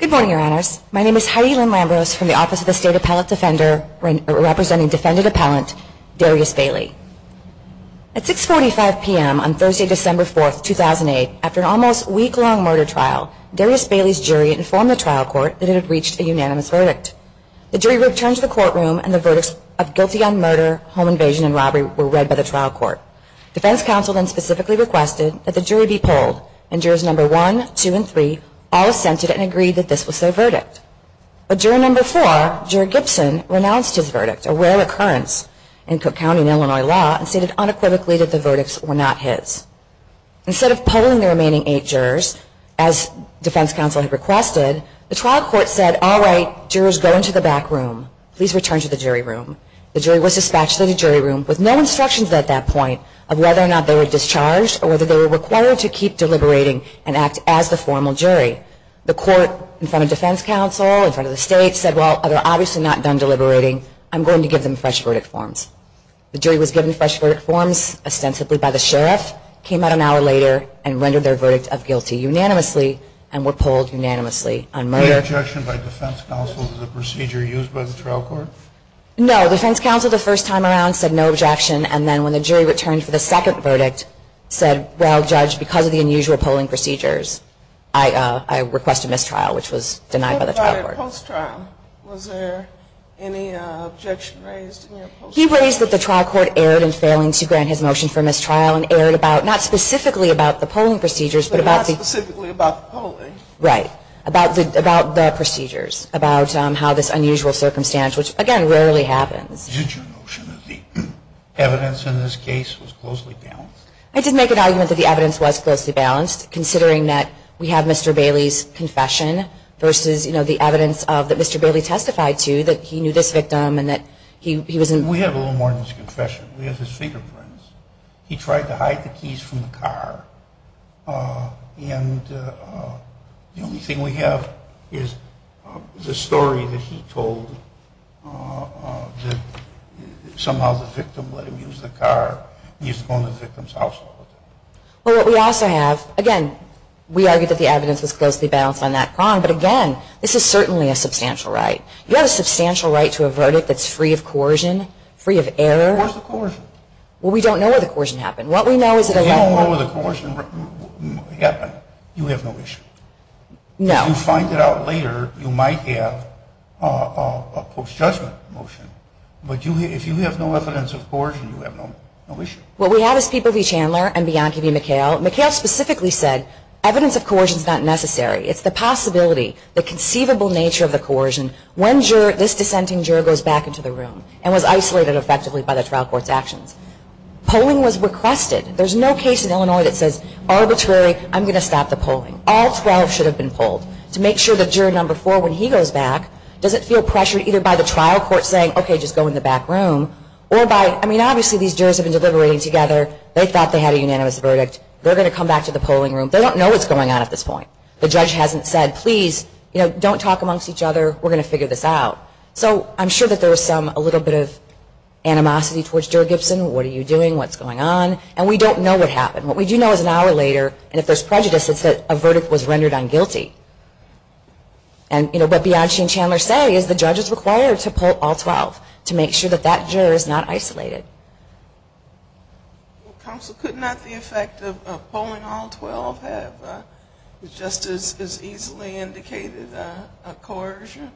Good morning, Your Honors. My name is Heidi Lynn Lambros from the Office of the State Appellate Defender, representing Defendant Appellant Darius Bailey. At 6.45 p.m. on Thursday, December 4, 2008, after an almost week-long murder trial, Darius Bailey's jury informed the trial court that it had reached a unanimous verdict. The jury returned to the courtroom and the verdicts of Guilty on Murder, Home Invasion, and Robbery were read by the trial court. Defense counsel then specifically requested that the jury be polled, and jurors No. 1, 2, and 3 all assented and agreed that this was their verdict. But juror No. 4, Jury Gibson, renounced his verdict, a rare occurrence in Cook County, Illinois law, and stated unequivocally that the verdicts were not his. Instead of polling the remaining eight jurors, as defense counsel had requested, the trial court said, all right, jurors go into the back room. Please return to the jury room. The jury was dispatched to the jury room with no instructions at that point of whether or not they were discharged or whether they were required to keep deliberating and act as the formal jury. The court, in front of defense counsel, in front of the state, said, well, they're obviously not done deliberating. I'm going to give them fresh verdict forms, ostensibly by the sheriff, came out an hour later and rendered their verdict of guilty unanimously and were polled unanimously on murder. Was there any objection by defense counsel to the procedure used by the trial court? No. Defense counsel, the first time around, said no objection. And then when the jury returned for the second verdict, said, well, judge, because of the unusual polling procedures, I request a mistrial, which was denied by the trial court. What about a post-trial? Was there any objection raised in your post-trial? He raised that the trial court erred in failing to grant his motion for mistrial and erred about, not specifically about the polling procedures, but about the But not specifically about the polling. Right. About the procedures. About how this unusual circumstance, which, again, rarely happens. Did your notion of the evidence in this case was closely balanced? I did make an argument that the evidence was closely balanced, considering that we have Mr. Bailey's confession versus, you know, the evidence that Mr. Bailey testified to, that he knew this victim and that he was in We have a little more than his confession. We have his fingerprints. He tried to hide the keys from the car. And the only thing we have is the story that he told that somehow the victim let him use the car. He used to go in the victim's household. Well, what we also have, again, we argued that the evidence was closely balanced on that crime. But again, this is certainly a substantial right. You have a substantial right to a verdict that's free of coercion, free of error. Where's the coercion? Well, we don't know where the coercion happened. What we know is that if you don't know where the coercion happened, you have no issue. No. If you find it out later, you might have a post-judgment motion. But if you have no evidence of coercion, you have no issue. What we have is people, Lee Chandler and Bianca B. McHale. McHale specifically said, evidence of coercion is not necessary. It's the possibility, the conceivable nature of the coercion. When this dissenting juror goes back into the room and was isolated effectively by the trial court's actions, polling was requested. There's no case in Illinois that says, arbitrary, I'm going to stop the polling. All 12 should have been polled to make sure that juror number 4, when he goes back, doesn't feel pressured either by the trial court saying, okay, just go in the back room. Or by, I mean, obviously these jurors have been deliberating together. They thought they had a unanimous verdict. They're going to come back to the polling room. They don't know what's going on at this point. The judge hasn't said, please, you know, don't talk amongst each other. We're going to figure this out. So, I'm sure that there was some, a little bit of animosity towards juror Gibson. What are you doing? What's going on? And we don't know what happened. What we do know is an hour later, and if there's prejudice, it's that a verdict was rendered on guilty. And you know, what Bianchi and Chandler say is the judge is required to poll all 12 to make sure that that juror is not isolated. Well, counsel, could not the effect of polling all 12 have just as easily indicated a coercion?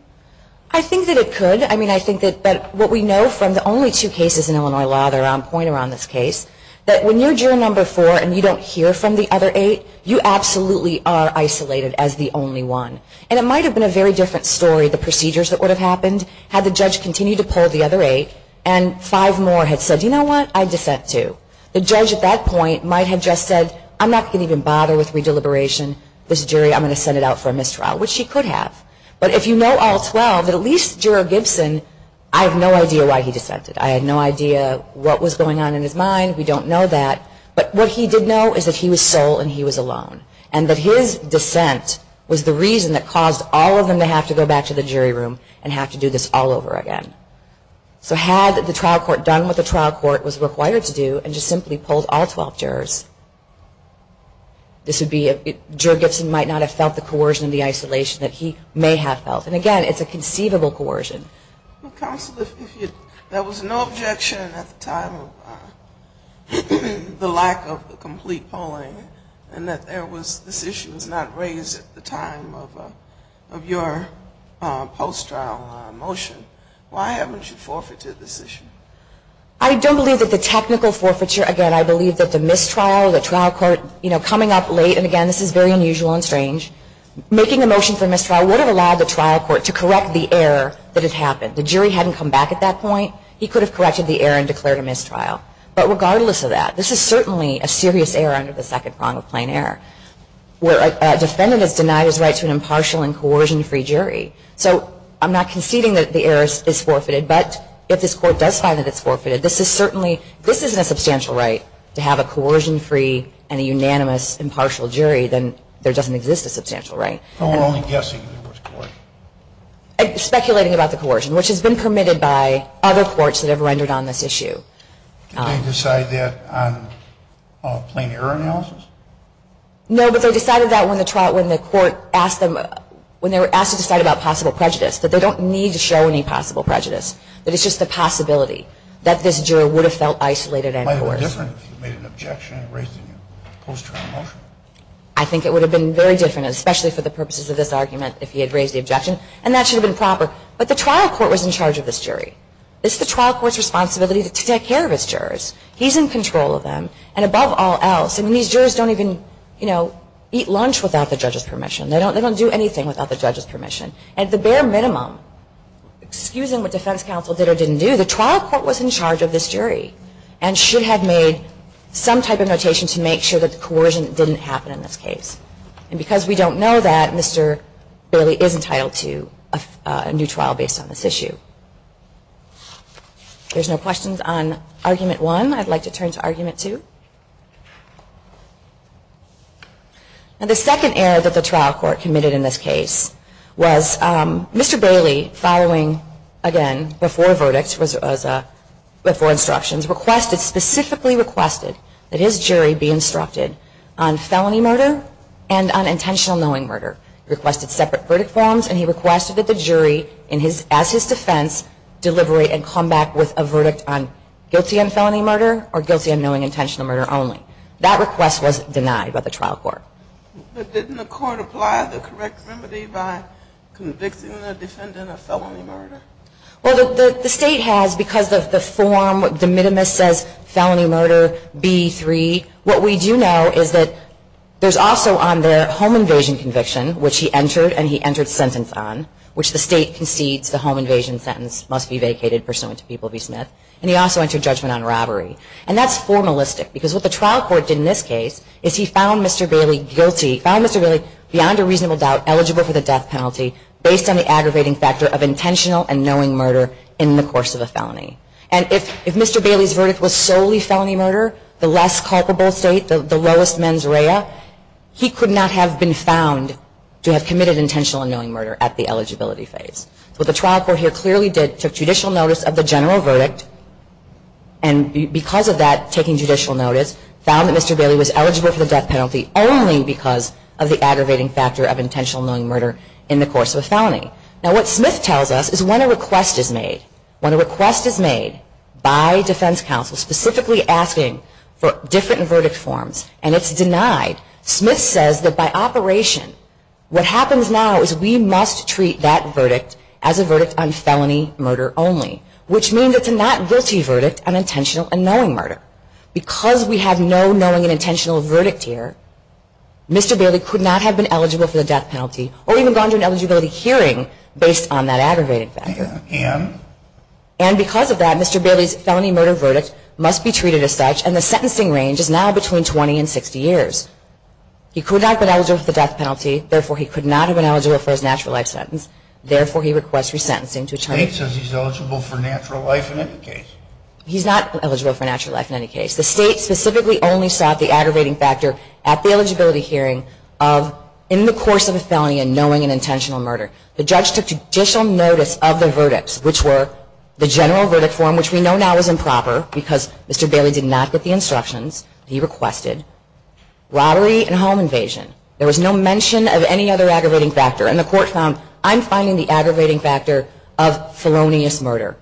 I think that it could. I mean, I think that what we know from the only two cases in Illinois law that are on point around this case, that when you're juror number four and you don't hear from the other eight, you absolutely are isolated as the only one. And it might have been a very different story, the procedures that would have happened had the judge continued to poll the other eight and five more had said, you know what, I dissent too. The judge at that point might have just said, I'm not going to even bother with re-deliberation. This jury, I'm going to send it out for a mistrial, which he could have. But if you know all 12, at least juror Gibson, I have no idea why he dissented. I had no idea what was going on in his mind. We don't know that. But what he did know is that he was sole and he was alone. And that his dissent was the reason that caused all of them to have to go back to the jury room and have to do this all over again. So had the trial court done what the trial court was required to do and just simply polled all 12 jurors, this would be a, juror Gibson might not have felt the coercion and the isolation that he may have felt. And again, it's a conceivable coercion. Counsel, if you, there was no objection at the time of the lack of the complete polling and that there was, this issue was not raised at the time of your post-trial motion. Why haven't you forfeited this issue? I don't believe that the technical forfeiture, again, I believe that the mistrial, the trial court, you know, coming up late, and again, this is very unusual and strange, making a motion for mistrial would have allowed the trial court to correct the error that had happened. The jury hadn't come back at that point. He could have corrected the error and declared a mistrial. But regardless of that, this is certainly a serious error under the Second Prong of Plain Error, where a defendant has denied his right to an impartial and coercion-free jury. So I'm not conceding that the error is forfeited, but if this court does find that it's forfeited, this is certainly, this isn't a substantial right to have a coercion-free and a unanimous impartial jury, then there doesn't exist a substantial right. So we're only guessing it was coercion? Speculating about the coercion, which has been permitted by other courts that have rendered on this issue. Did they decide that on a plain error analysis? No, but they decided that when the trial, when the court asked them, when they were asked to decide about possible prejudice, that they don't need to show any possible prejudice, that it's just a possibility that this juror would have felt isolated and coerced. It might have been different if he made an objection and raised a post-trial motion. I think it would have been very different, especially for the purposes of this argument, if he had raised the objection. And that should have been proper. But the trial court was in charge of this jury. It's the trial court's responsibility to take care of its jurors. He's in control of them. And above all else, I mean, these jurors don't even, you know, eat lunch without the judge's permission. They don't do anything without the judge's permission. At the bare minimum, excusing what defense counsel did or didn't do, the trial court was in charge of this jury and should have made some type of notation to make sure that the coercion didn't happen in this case. And because we don't know that, Mr. Bailey is entitled to a new trial based on this issue. There's no questions on argument one. I'd like to turn to argument two. Now, the second error that the trial court committed in this case was Mr. Bailey, following, again, before verdicts, before instructions, requested, specifically requested, that his jury be instructed on felony murder and on intentional knowing murder. He requested separate verdict forms, and he requested that the jury, as his defense, deliberate and come back with a verdict on guilty on felony murder or guilty on knowing intentional murder only. That request was denied by the trial court. But didn't the court apply the correct remedy by convicting the defendant of felony murder? Well, the state has, because of the form, De Minimis says, felony murder, B3. What we do know is that there's also on there home invasion conviction, which he entered, and he entered sentence on, which the state concedes the home invasion sentence must be vacated pursuant to People v. Smith. And he also entered judgment on robbery. And that's formalistic, because what the trial court did in this case is he found Mr. Bailey guilty, found Mr. Bailey, beyond a reasonable doubt, eligible for the death penalty based on the aggravating factor of intentional and knowing murder in the course of a felony. And if Mr. Bailey's verdict was solely felony murder, the less culpable state, the lowest mens rea, he could not have been found to have committed intentional and knowing murder at the eligibility phase. What the trial court here clearly did, took judicial notice of the general verdict, and because of that, taking judicial notice, found that Mr. Bailey was eligible for the death penalty only because of the aggravating factor of intentional and knowing murder in the course of a felony. Now, what Smith tells us is when a request is made, when a request is made by defense counsel specifically asking for different verdict forms, and it's denied, Smith says that by operation, what happens now is we must treat that verdict as a verdict on felony murder only, which means it's a not-guilty verdict on intentional and knowing murder. Because we have no knowing and intentional verdict here, Mr. Bailey could not have been eligible for the death penalty or even gone to an eligibility hearing based on that aggravating factor. And? And because of that, Mr. Bailey's felony murder verdict must be treated as such, and the sentencing range is now between 20 and 60 years. He could not have been eligible for the death penalty, therefore he could not have been eligible for his natural life sentence, therefore he requests resentencing to attorney. The state says he's eligible for natural life in any case. He's not eligible for natural life in any case. The state specifically only sought the aggravating factor at the eligibility hearing of in the course of a felony and knowing and intentional murder. The judge took judicial notice of the verdicts, which were the general verdict form, which we know now is improper because Mr. Bailey did not get the instructions he requested, robbery and home invasion. There was no mention of any other aggravating factor. And the court found, I'm finding the aggravating factor of felonious murder,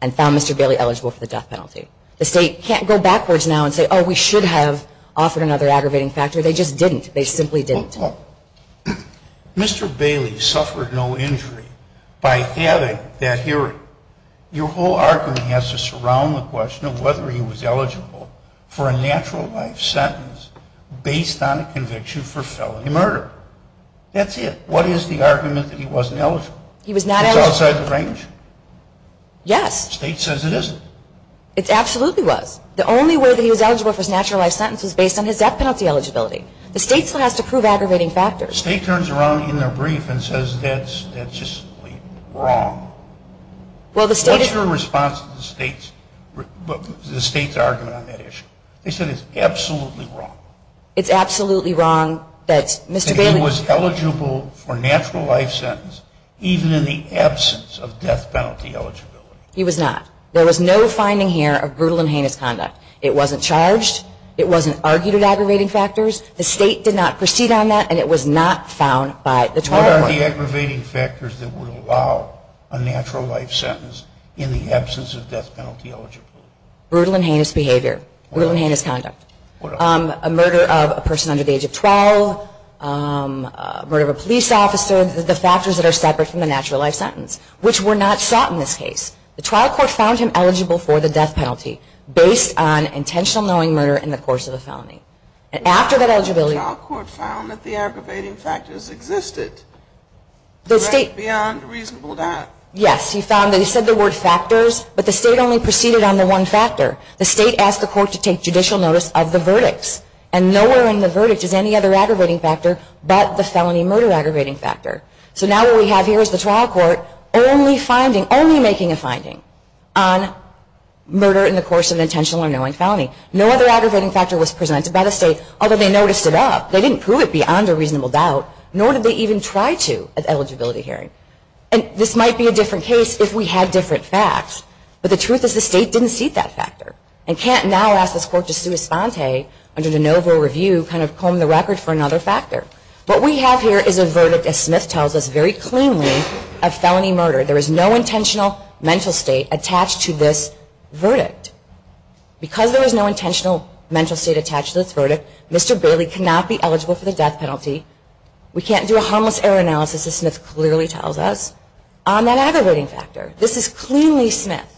and found Mr. Bailey eligible for the death penalty. The state can't go backwards now and say, oh, we should have offered another aggravating factor. They just didn't. They simply didn't. Mr. Bailey suffered no injury by having that hearing. Your whole argument has to surround the question of whether he was eligible for a natural life sentence based on a conviction for felony murder. That's it. What is the argument that he wasn't eligible? He was not eligible. It's outside the range? Yes. The state says it isn't. It absolutely was. The only way that he was eligible for his natural life sentence was based on his death penalty eligibility. The state still has to prove aggravating factors. The state turns around in their brief and says that's just wrong. What's your response to the state's argument on that issue? They said it's absolutely wrong. It's absolutely wrong that Mr. Bailey was eligible for a natural life sentence even in the absence of death penalty eligibility. He was not. There was no finding here of brutal and heinous conduct. It wasn't charged. It wasn't argued at aggravating factors. And it was not found by the trial court. What are the aggravating factors that would allow a natural life sentence in the absence of death penalty eligibility? Brutal and heinous behavior. Brutal and heinous conduct. A murder of a person under the age of 12, murder of a police officer, the factors that are separate from the natural life sentence, which were not sought in this case. The trial court found him eligible for the death penalty based on intentional knowing murder in the course of a felony. And after that eligibility- The trial court found that the aggravating factors existed beyond reasonable doubt. Yes, he found that he said the word factors, but the state only proceeded on the one factor. The state asked the court to take judicial notice of the verdicts. And nowhere in the verdict is any other aggravating factor but the felony murder aggravating factor. So now what we have here is the trial court only making a finding on murder in the course of intentional or knowing felony. No other aggravating factor was presented by the state, although they noticed it up. They didn't prove it beyond a reasonable doubt, nor did they even try to at eligibility hearing. And this might be a different case if we had different facts. But the truth is the state didn't see that factor. And can't now ask this court to sue Esponte under de novo review, kind of comb the record for another factor. What we have here is a verdict, as Smith tells us, very cleanly of felony murder. There is no intentional mental state attached to this verdict. Because there is no intentional mental state attached to this verdict, Mr. Bailey cannot be eligible for the death penalty. We can't do a harmless error analysis, as Smith clearly tells us, on that aggravating factor. This is cleanly Smith.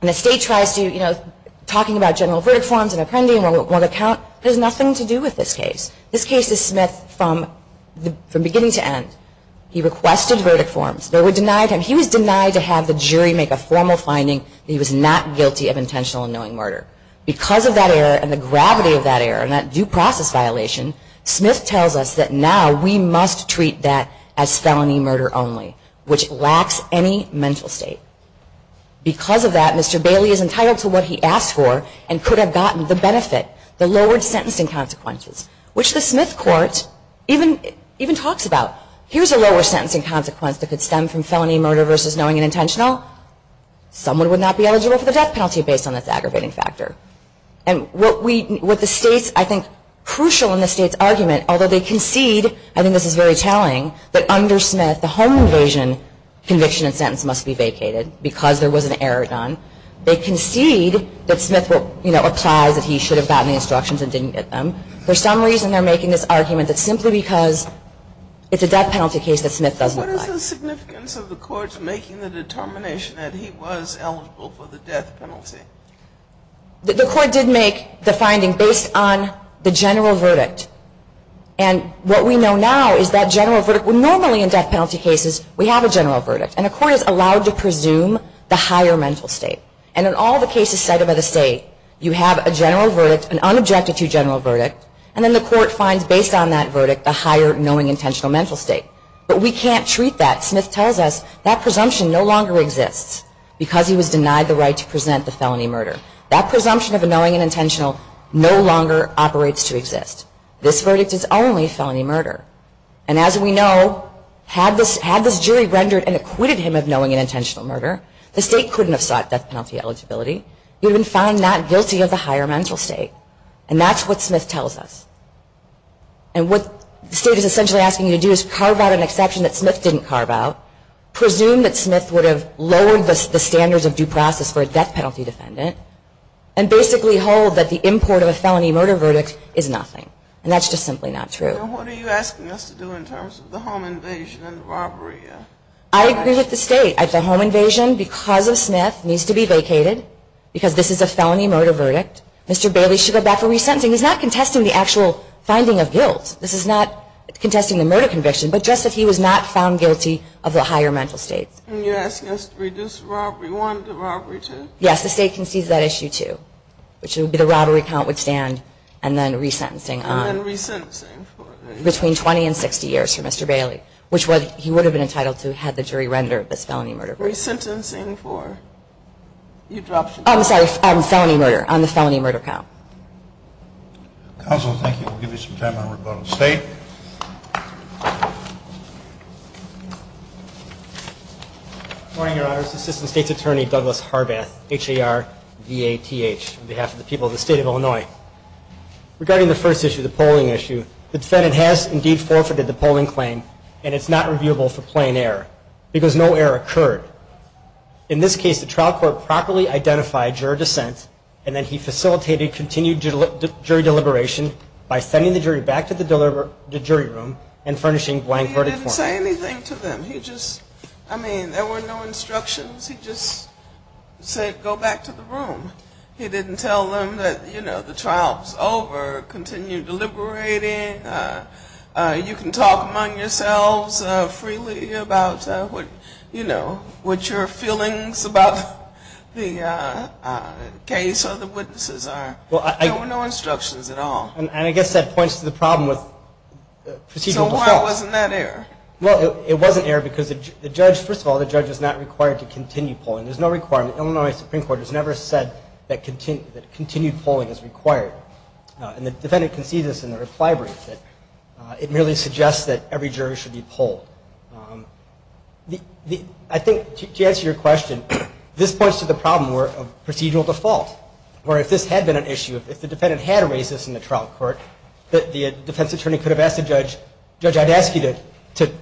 And the state tries to, you know, talking about general verdict forms and appending one account, there's nothing to do with this case. This case is Smith from beginning to end. He requested verdict forms. They were denied him. He was denied to have the jury make a formal finding that he was not guilty of intentional unknowing murder. Because of that error and the gravity of that error and that due process violation, Smith tells us that now we must treat that as felony murder only, which lacks any mental state. Because of that, Mr. Bailey is entitled to what he asked for and could have gotten the benefit, the lowered sentencing consequences, which the Smith court even talks about. Here's a lower sentencing consequence that could stem from felony murder versus knowing and intentional. Someone would not be eligible for the death penalty based on this aggravating factor. And what the state's, I think, crucial in the state's argument, although they concede, I think this is very telling, that under Smith, the home invasion conviction and sentence must be vacated because there was an error done. They concede that Smith will, you know, applies that he should have gotten the instructions and didn't get them. For some reason, they're making this argument that simply because it's a death penalty case that Smith doesn't apply. What is the significance of the court's making the determination that he was eligible for the death penalty? The court did make the finding based on the general verdict. And what we know now is that general verdict, well normally in death penalty cases, we have a general verdict. And a court is allowed to presume the higher mental state. And in all the cases cited by the state, you have a general verdict, And then the court finds based on that verdict, the higher knowing intentional mental state. But we can't treat that. Smith tells us that presumption no longer exists because he was denied the right to present the felony murder. That presumption of a knowing and intentional no longer operates to exist. This verdict is only felony murder. And as we know, had this jury rendered and acquitted him of knowing and intentional murder, the state couldn't have sought death penalty eligibility. You would find not guilty of the higher mental state. And that's what Smith tells us. And what the state is essentially asking you to do is carve out an exception that Smith didn't carve out. Presume that Smith would have lowered the standards of due process for a death penalty defendant. And basically hold that the import of a felony murder verdict is nothing. And that's just simply not true. And what are you asking us to do in terms of the home invasion and robbery? I agree with the state. At the home invasion, because of Smith, needs to be vacated. Because this is a felony murder verdict. Mr. Bailey should go back for re-sentencing. He's not contesting the actual finding of guilt. This is not contesting the murder conviction, but just that he was not found guilty of the higher mental state. And you're asking us to reduce robbery one to robbery two? Yes, the state concedes that issue, too. Which would be the robbery count would stand, and then re-sentencing on. And then re-sentencing for the- Between 20 and 60 years for Mr. Bailey. Which he would have been entitled to had the jury rendered this felony murder. Re-sentencing for, you dropped the- I'm sorry, felony murder, on the felony murder count. Counsel, thank you, we'll give you some time on rebuttal. State? Good morning, your honors. Assistant State's Attorney, Douglas Harbath, H-A-R-V-A-T-H, on behalf of the people of the state of Illinois. Regarding the first issue, the polling issue, the defendant has indeed forfeited the polling claim, and it's not reviewable for plain error, because no error occurred. In this case, the trial court properly identified juror dissent, and he facilitated continued jury deliberation by sending the jury back to the jury room, and furnishing blank verdict for him. He didn't say anything to them, he just, I mean, there were no instructions. He just said, go back to the room. He didn't tell them that, you know, the trial's over, continue deliberating. You can talk among yourselves freely about what, you know, what your feelings about the case or the witnesses are. There were no instructions at all. And I guess that points to the problem with procedural default. So why wasn't that error? Well, it wasn't error because the judge, first of all, the judge is not required to continue polling. There's no requirement. Illinois Supreme Court has never said that continued polling is required. And the defendant concedes this in the reply brief, that it merely suggests that every jury should be polled. I think, to answer your question, this points to the problem of procedural default. Where if this had been an issue, if the defendant had raised this in the trial court, that the defense attorney could have asked the judge, judge I'd ask you to,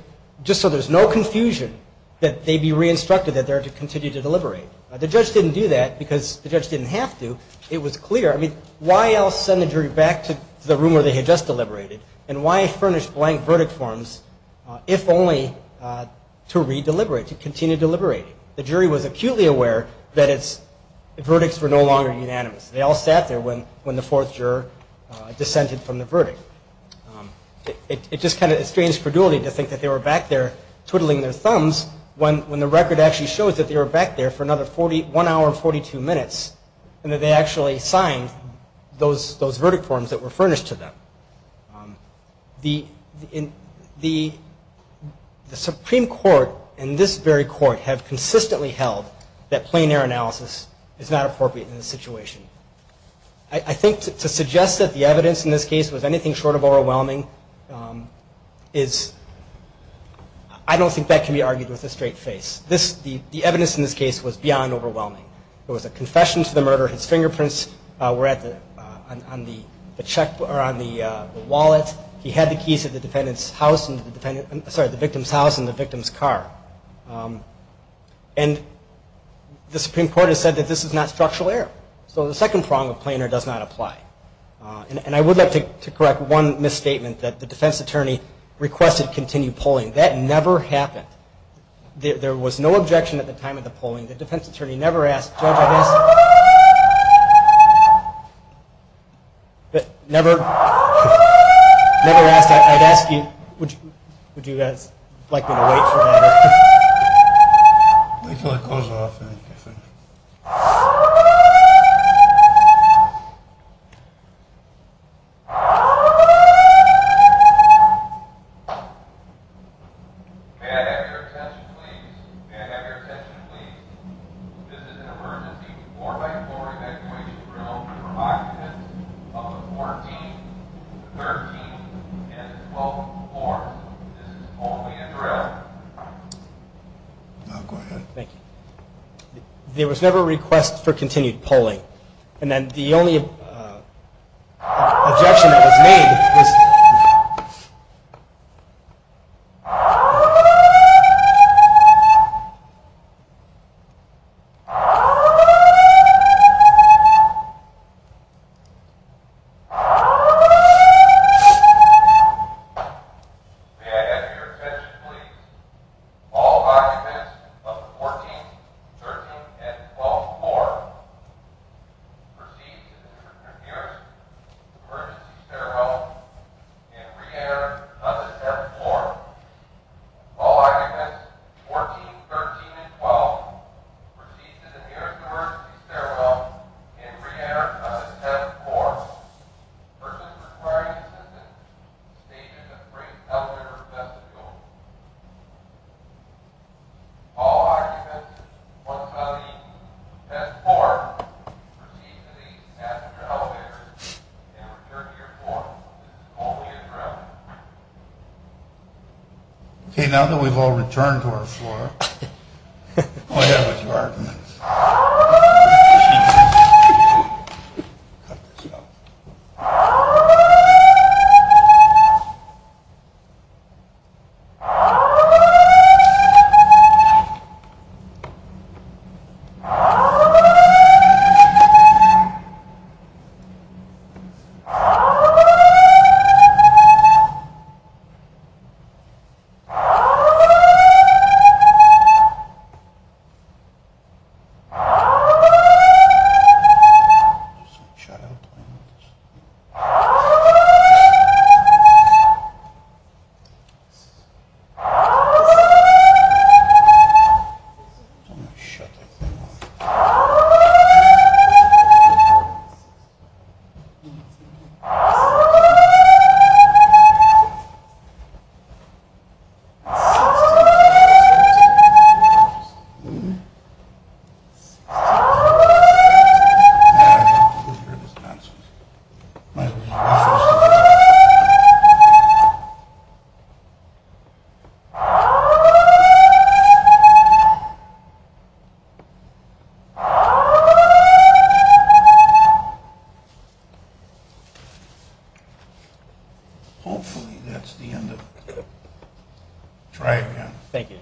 just so there's no confusion, that they be re-instructed that they're to continue to deliberate. The judge didn't do that because the judge didn't have to. It was clear. I mean, why else send the jury back to the room where they had just deliberated? And why furnish blank verdict forms, if only to re-deliberate, to continue deliberating? The jury was acutely aware that its verdicts were no longer unanimous. They all sat there when the fourth juror dissented from the verdict. It just kind of estranged credulity to think that they were back there twiddling their thumbs when the record actually shows that they were back there for another one hour and 42 minutes. And that they actually signed those verdict forms that were furnished to them. The Supreme Court and this very court have consistently held that plain air analysis is not appropriate in this situation. I think to suggest that the evidence in this case was anything short of overwhelming is, I don't think that can be argued with a straight face. The evidence in this case was beyond overwhelming. It was a confession to the murder. His fingerprints were on the wallet. He had the keys to the victim's house and the victim's car. And the Supreme Court has said that this is not structural error. So the second prong of plain air does not apply. And I would like to correct one misstatement that the defense attorney requested continued polling. That never happened. There was no objection at the time of the polling. The defense attorney never asked, Judge, I guess. But never, never asked. I'd ask you, would you guys like me to wait for that? Wait till it comes off. May I have your attention, please? May I have your attention, please? This is an emergency floor-by-floor evacuation drill for occupants of the 14th, 13th, and 12th floors. This is only a drill. Now, go ahead. Thank you. There was never a request for continued polling. And then the only objection that was made was. May I have your attention, please? All occupants of the 14th, 13th, and 12th floor, proceed to the nearest emergency stairwell. And re-enter another 7th floor. All occupants of the 14th, 13th, and 12th, proceed to the nearest emergency stairwell. And re-enter another 7th floor. Persons requiring assistance, stay to the next elevator or vestibule. All occupants once out of the 7th floor, proceed to the next elevator and return to your floor. This is only a drill. Okay, now that we've all returned to our floor, go ahead with your arguments. Thank you. Cut this out. I'm just going to shout out my notes. I'm going to shut up now. I don't want people to hear this nonsense. Hopefully that's the end of it. Try again. Thank you.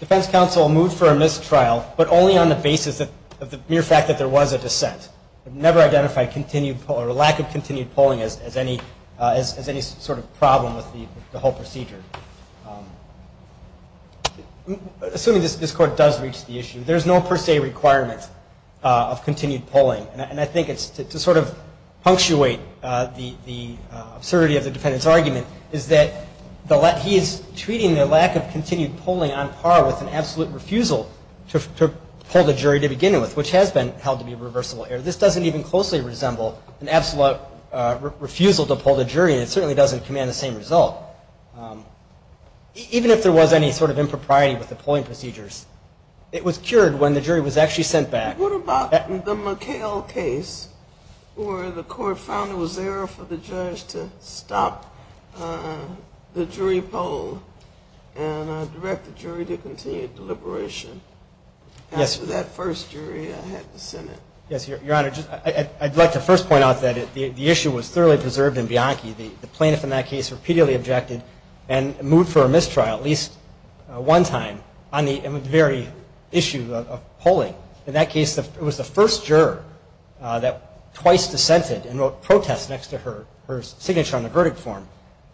Defense counsel moved for a missed trial, but only on the basis of the mere fact that there was a dissent. Never identified lack of continued polling as any sort of problem with the whole procedure. Assuming this court does reach the issue, there's no per se requirement of continued polling. And I think to sort of punctuate the absurdity of the defendant's argument is that he is treating the lack of continued polling on par with an absolute refusal to poll the jury to begin with, which has been held to be a reversible error. This doesn't even closely resemble an absolute refusal to poll the jury, and it certainly doesn't command the same result. Even if there was any sort of impropriety with the polling procedures, it was cured when the jury was actually sent back. What about the McHale case, where the court found it was error for the judge to stop the jury poll and direct the jury to continued deliberation? Yes. After that first jury I had to send it. Yes, Your Honor. I'd like to first point out that the issue was thoroughly preserved in Bianchi. The plaintiff in that case repeatedly objected and moved for a missed trial at least one time on the very issue of polling. In that case, it was the first juror that twice dissented and wrote protest next to her signature on the verdict form.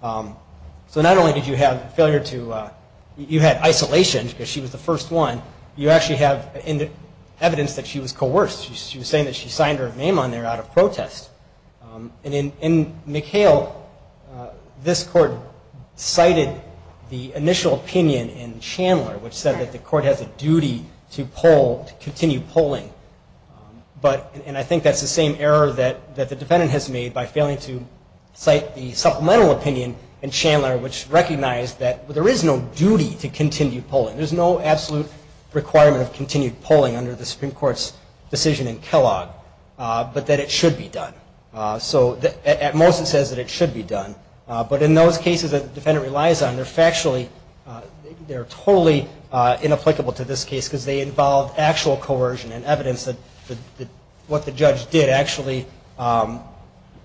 So not only did you have failure to, you had isolation because she was the first one, you actually have evidence that she was coerced. She was saying that she signed her name on there out of protest. In McHale, this court cited the initial opinion in Chandler, which said that the court has a duty to continue polling. I think that's the same error that the defendant has made by failing to cite the supplemental opinion in Chandler, which recognized that there is no duty to continue polling. There's no absolute requirement of continued polling under the Supreme Court's decision in Kellogg, but that it should be done. At most it says that it should be done, but in those cases that the defendant relies on, they're totally inapplicable to this case because they involve actual coercion and evidence that what the judge did actually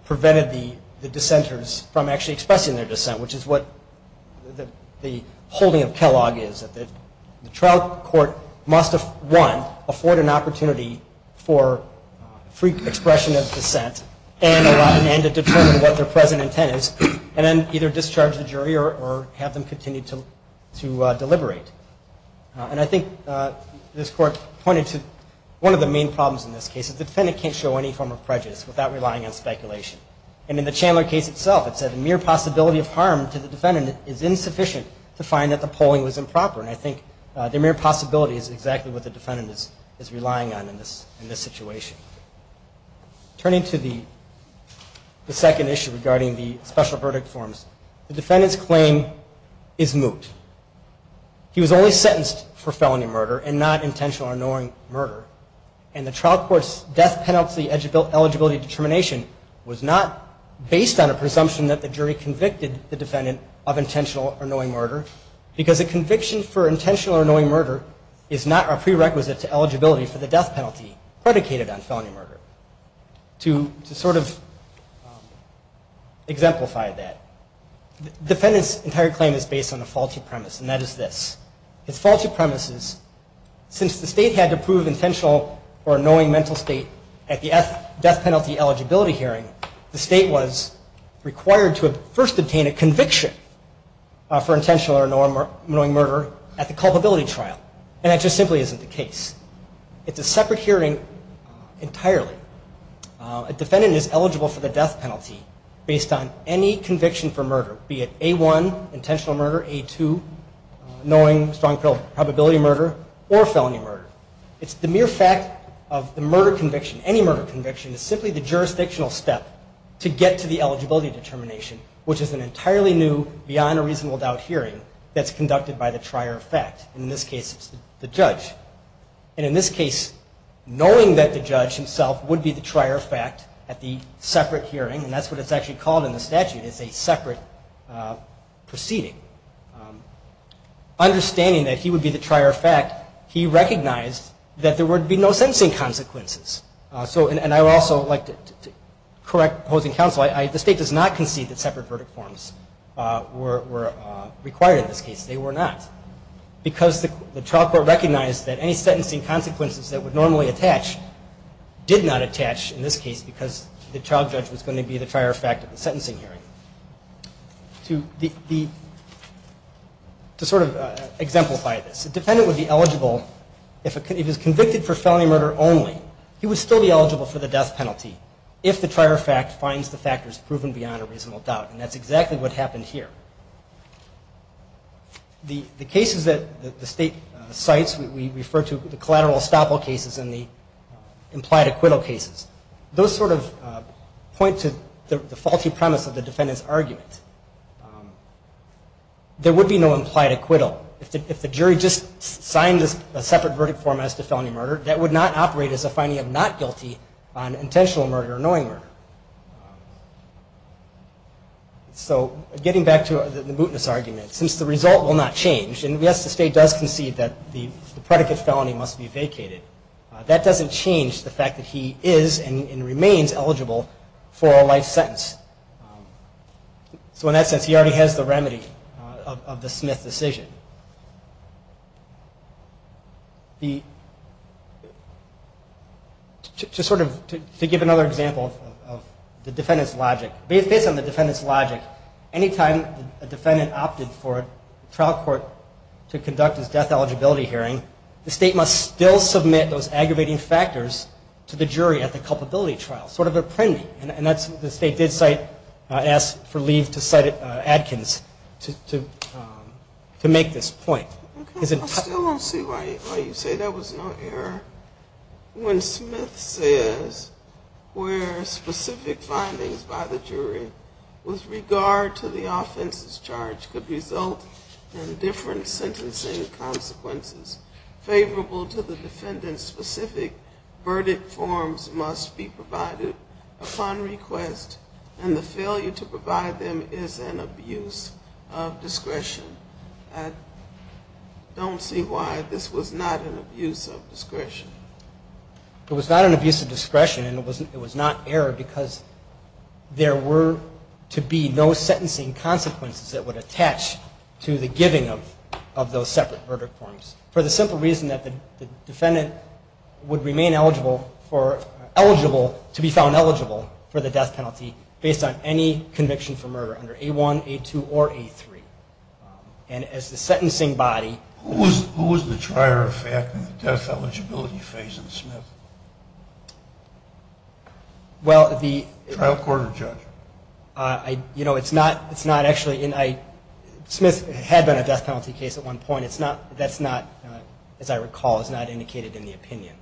prevented the dissenters from actually expressing their dissent, which is what the holding of Kellogg is. The trial court must, one, afford an opportunity for free expression of dissent and to determine what their present intent is and then either discharge the jury or have them continue to deliberate. I think this court pointed to one of the main problems in this case is the defendant can't show any form of prejudice without relying on speculation. In the Chandler case itself, it said the mere possibility of harm to the defendant is insufficient to find that the polling was improper. I think the mere possibility is exactly what the defendant is relying on in this situation. Turning to the second issue regarding the special verdict forms, the defendant's claim is moot. He was only sentenced for felony murder and not intentional or annoying murder, and the trial court's death penalty eligibility determination was not based on a presumption that the jury convicted the defendant of intentional or annoying murder because a conviction for intentional or annoying murder is not a prerequisite to eligibility for the death penalty predicated on felony murder. To sort of exemplify that, the defendant's entire claim is based on a faulty premise, and that is this. His faulty premise is since the state had to prove intentional or annoying mental state at the death penalty eligibility hearing, the state was required to first obtain a conviction for intentional or annoying murder at the culpability trial, and that just simply isn't the case. It's a separate hearing entirely. A defendant is eligible for the death penalty based on any conviction for murder, be it A1, intentional murder, A2, annoying, strong probability murder, or felony murder. It's the mere fact of the murder conviction, any murder conviction, is simply the jurisdictional step to get to the eligibility determination, which is an entirely new, beyond a reasonable doubt hearing that's conducted by the trier of fact, and in this case it's the judge. And in this case, knowing that the judge himself would be the trier of fact at the separate hearing, and that's what it's actually called in the statute, it's a separate proceeding. Understanding that he would be the trier of fact, he recognized that there would be no sentencing consequences. And I would also like to correct opposing counsel, the state does not concede that separate verdict forms were required in this case. They were not. Because the trial court recognized that any sentencing consequences that would normally attach did not attach in this case because the trial judge was going to be the trier of fact at the sentencing hearing. To sort of exemplify this, the defendant would be eligible, if he was convicted for felony murder only, he would still be eligible for the death penalty if the trier of fact finds the factors proven beyond a reasonable doubt. And that's exactly what happened here. The cases that the state cites, we refer to the collateral estoppel cases and the implied acquittal cases, those sort of point to the faulty premise of the defendant's argument. There would be no implied acquittal. If the jury just signed a separate verdict form as to felony murder, that would not operate as a finding of not guilty on intentional murder or knowing murder. So getting back to the mootness argument, since the result will not change, and yes the state does concede that the predicate felony must be vacated, that doesn't change the fact that he is and remains eligible for a life sentence. So in that sense he already has the remedy of the Smith decision. Just sort of to give another example of the defendant's logic, based on the defendant's logic, any time a defendant opted for a trial court to conduct his death eligibility hearing, the state must still submit those aggravating factors to the jury at the culpability trial, sort of a premie, and the state did cite, asked for leave to cite it at Adkins, to make this point. I still don't see why you say there was no error. When Smith says where specific findings by the jury with regard to the offense's charge could result in different sentencing consequences favorable to the defendant, specific verdict forms must be provided upon request, and the failure to provide them is an abuse of discretion. I don't see why this was not an abuse of discretion. It was not an abuse of discretion, and it was not error because there were to be no sentencing consequences that would attach to the giving of those separate verdict forms, for the simple reason that the defendant would remain eligible for, for the death penalty based on any conviction for murder under A1, A2, or A3, and as the sentencing body. Who was the trier of fact in the death eligibility phase in Smith? Well, the. Trial court or judge? You know, it's not actually, Smith had been a death penalty case at one point. That's not, as I recall, is not indicated in the opinion.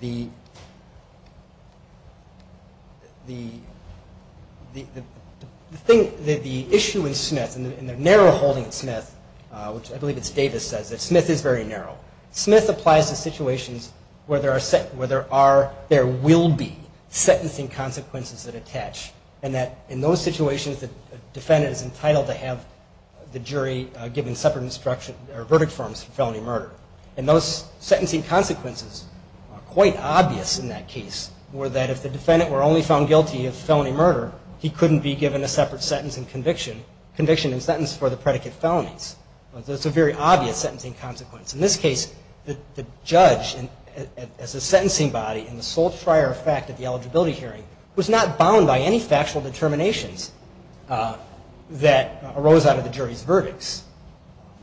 The. The. The thing, the issue in Smith, in the narrow holding in Smith, which I believe it's Davis says that Smith is very narrow. Smith applies to situations where there are, where there are, there will be sentencing consequences that attach, and that in those situations the defendant is entitled to have the jury giving separate instruction, or verdict forms for felony murder. And those sentencing consequences are quite obvious in that case, were that if the defendant were only found guilty of felony murder, he couldn't be given a separate sentence and conviction, conviction and sentence for the predicate felonies. That's a very obvious sentencing consequence. In this case, the judge, as a sentencing body, and the sole trier of fact at the eligibility hearing, was not bound by any factual determinations that arose out of the jury's verdicts.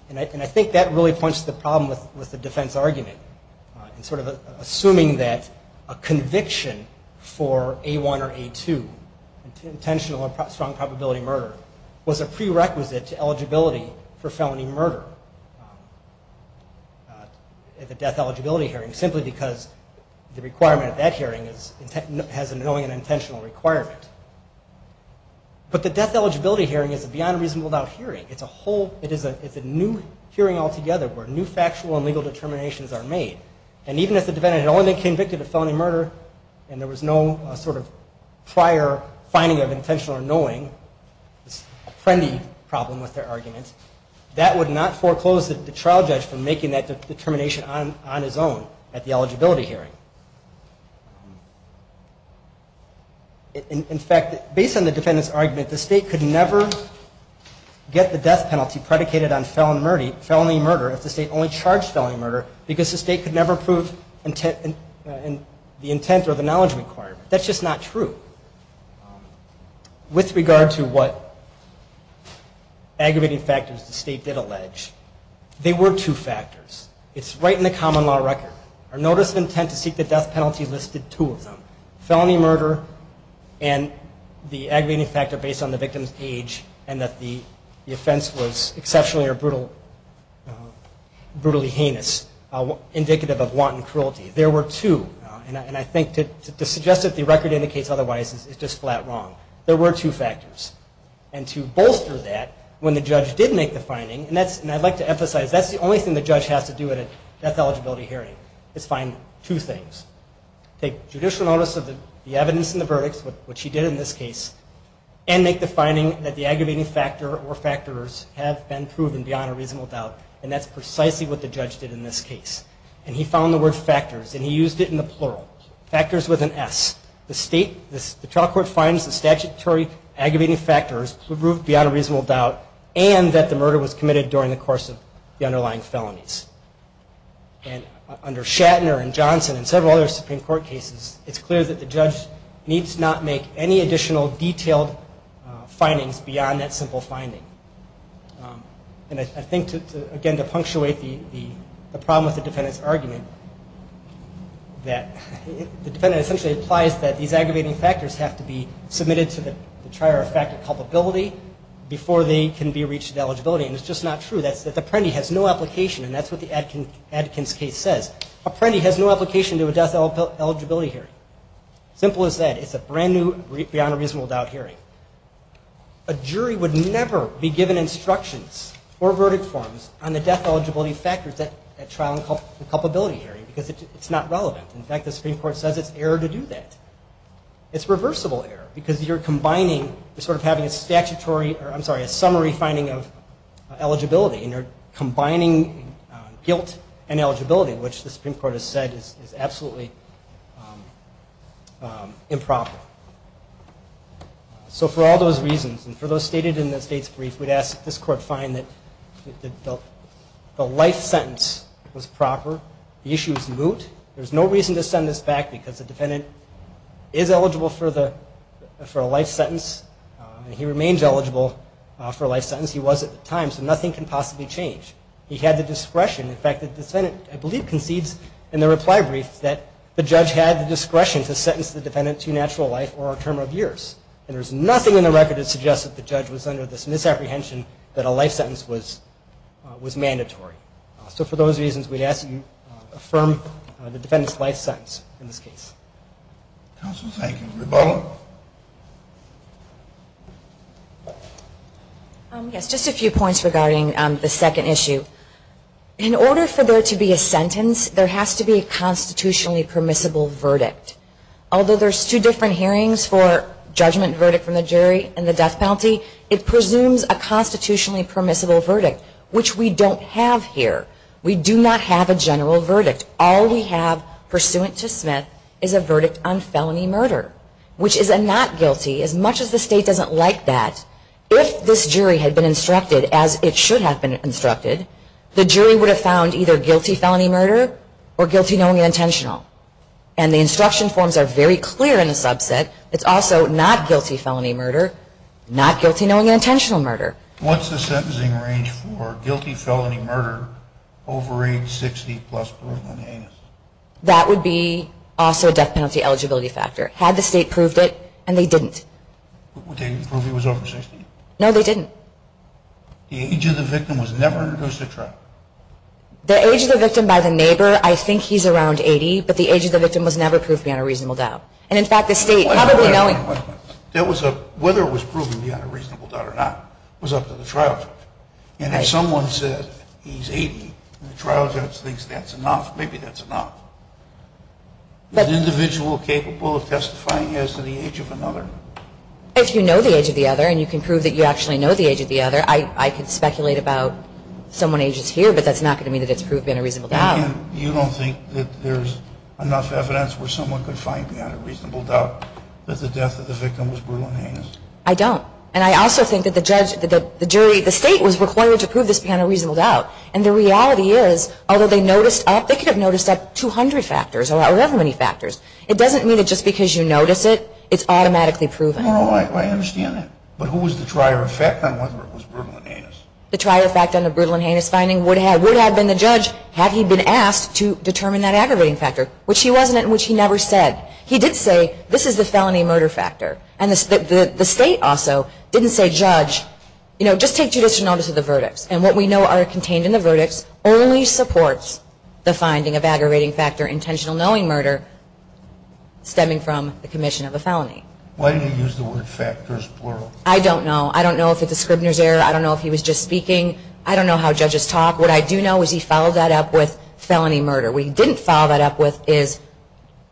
And I think that really points to the problem with the defense argument, in sort of assuming that a conviction for A1 or A2, intentional or strong probability murder, was a prerequisite to eligibility for felony murder. At the death eligibility hearing, simply because the requirement at that hearing is, has a knowing and intentional requirement. But the death eligibility hearing is beyond reasonable without hearing. It's a whole, it's a new hearing altogether, where new factual and legal determinations are made. And even if the defendant had only been convicted of felony murder, and there was no sort of prior finding of intentional or knowing, this friendly problem with their argument, that would not foreclose the trial judge from making that determination on his own, at the eligibility hearing. In fact, based on the defendant's argument, the state could never get the death penalty predicated on felony murder, if the state only charged felony murder, because the state could never prove the intent or the knowledge required. That's just not true. With regard to what aggravating factors the state did allege, they were two factors. It's right in the common law record. Our notice of intent to seek the death penalty listed two of them. Felony murder and the aggravating factor based on the victim's age, and that the offense was exceptionally or brutally heinous, indicative of wanton cruelty. There were two. And I think to suggest that the record indicates otherwise is just flat wrong. There were two factors. And to bolster that, when the judge did make the finding, and I'd like to emphasize that's the only thing the judge has to do at a death eligibility hearing, is find two things. Take judicial notice of the evidence in the verdict, which he did in this case, and make the finding that the aggravating factor or factors have been proven beyond a reasonable doubt, and that's precisely what the judge did in this case. And he found the word factors, and he used it in the plural. Factors with an S. The trial court finds the statutory aggravating factors proved beyond a reasonable doubt, and that the murder was committed during the course of the underlying felonies. And under Shatner and Johnson and several other Supreme Court cases, it's clear that the judge needs not make any additional detailed findings beyond that simple finding. And I think, again, to punctuate the problem with the defendant's argument, that the defendant essentially implies that these aggravating factors have to be submitted to the trier of factor culpability before they can be reached at eligibility, and it's just not true. That's the Apprendi has no application, and that's what the Adkins case says. Apprendi has no application to a death eligibility hearing. Simple as that. It's a brand-new beyond a reasonable doubt hearing. A jury would never be given instructions or verdict forms on the death eligibility factors at trial culpability hearing because it's not relevant. In fact, the Supreme Court says it's error to do that. It's reversible error because you're combining sort of having a statutory I'm sorry, a summary finding of eligibility, and you're combining guilt and eligibility, which the Supreme Court has said is absolutely improper. So for all those reasons, and for those stated in the State's brief, we'd ask that this Court find that the life sentence was proper, the issue is moot. There's no reason to send this back because the defendant is eligible for a life sentence and he remains eligible for a life sentence. He was at the time, so nothing can possibly change. He had the discretion. In fact, the defendant, I believe, concedes in the reply brief that the judge had the discretion to sentence the defendant to natural life or a term of years, and there's nothing in the record that suggests that the judge was under this misapprehension that a life sentence was mandatory. So for those reasons, we'd ask that you affirm the defendant's life sentence in this case. Counsel, thank you. Rebecca? Yes, just a few points regarding the second issue. In order for there to be a sentence, there has to be a constitutionally permissible verdict. Although there's two different hearings for judgment and verdict from the jury and the death penalty, it presumes a constitutionally permissible verdict, which we don't have here. We do not have a general verdict. All we have pursuant to Smith is a verdict on felony murder, which is a not guilty. As much as the state doesn't like that, if this jury had been instructed as it should have been instructed, the jury would have found either guilty felony murder or guilty knowing and intentional. And the instruction forms are very clear in the subset. It's also not guilty felony murder, not guilty knowing and intentional murder. What's the sentencing range for guilty felony murder over age 60 plus proven anus? That would be also a death penalty eligibility factor. Had the state proved it, and they didn't. They didn't prove he was over 60? No, they didn't. The age of the victim was never introduced to trial? The age of the victim by the neighbor, I think he's around 80, but the age of the victim was never proved beyond a reasonable doubt. And in fact, the state probably knowing. Whether it was proven beyond a reasonable doubt or not was up to the trial judge. And if someone said he's 80, and the trial judge thinks that's enough, maybe that's enough. Is the individual capable of testifying as to the age of another? If you know the age of the other and you can prove that you actually know the age of the other, I could speculate about someone ages here, but that's not going to mean that it's proved beyond a reasonable doubt. You don't think that there's enough evidence where someone could find beyond a reasonable doubt that the death of the victim was brutal and heinous? I don't. And I also think that the judge, the jury, the state was required to prove this beyond a reasonable doubt. And the reality is, although they noticed up, they could have noticed up 200 factors or however many factors. It doesn't mean that just because you notice it, it's automatically proven. Oh, I understand that. But who was the trier effect on whether it was brutal and heinous? The trier effect on the brutal and heinous finding would have been the judge, had he been asked to determine that aggravating factor, which he wasn't and which he never said. He did say, this is the felony murder factor. And the state also didn't say, judge, you know, just take judicial notice of the verdicts. And what we know are contained in the verdicts only supports the finding of aggravating factor, intentional knowing murder, stemming from the commission of a felony. Why do you use the word factors, plural? I don't know. I don't know if it's a Scribner's error. I don't know if he was just speaking. I don't know how judges talk. What I do know is he followed that up with felony murder. What he didn't follow that up with is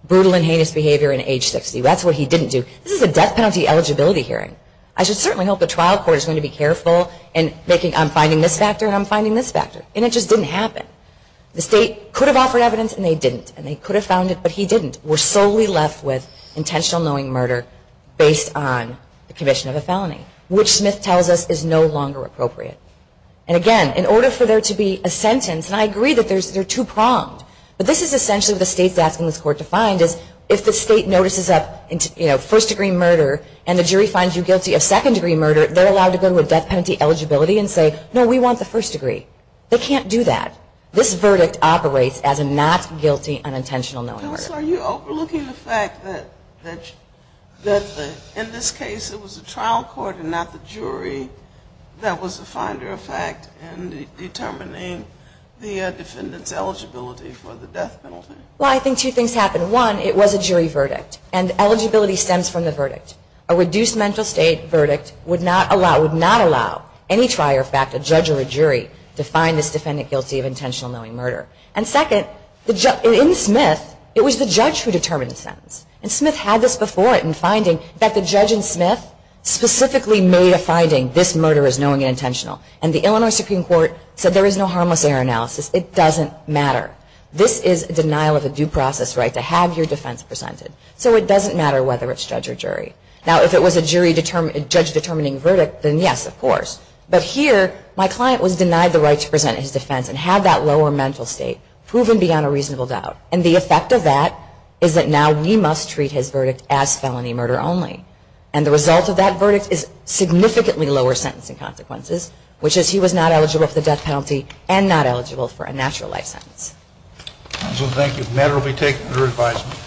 brutal and heinous behavior in age 60. That's what he didn't do. This is a death penalty eligibility hearing. I should certainly hope the trial court is going to be careful in making, I'm finding this factor and I'm finding this factor. And it just didn't happen. The state could have offered evidence and they didn't. And they could have found it, but he didn't. We're solely left with intentional knowing murder based on the commission of a felony, which Smith tells us is no longer appropriate. And, again, in order for there to be a sentence, and I agree that they're two-pronged, but this is essentially what the state's asking this court to find is if the state notices up, you know, first-degree murder and the jury finds you guilty of second-degree murder, they're allowed to go to a death penalty eligibility and say, no, we want the first degree. They can't do that. This verdict operates as a not guilty unintentional knowing murder. So are you overlooking the fact that in this case it was the trial court and not the jury that was the finder of fact in determining the defendant's eligibility for the death penalty? Well, I think two things happened. One, it was a jury verdict, and eligibility stems from the verdict. A reduced mental state verdict would not allow, would not allow, any trial or fact, a judge or a jury to find this defendant guilty of intentional knowing murder. And, second, in Smith, it was the judge who determined the sentence. And Smith had this before it in finding that the judge in Smith specifically made a finding, this murder is knowing and intentional. And the Illinois Supreme Court said there is no harmless error analysis. It doesn't matter. This is a denial of a due process right to have your defense presented. So it doesn't matter whether it's judge or jury. Now, if it was a judge-determining verdict, then yes, of course. But here, my client was denied the right to present his defense and had that lower mental state proven beyond a reasonable doubt. And the effect of that is that now we must treat his verdict as felony murder only. And the result of that verdict is significantly lower sentencing consequences, which is he was not eligible for the death penalty and not eligible for a natural life sentence. Counsel, thank you. The matter will be taken under advisement.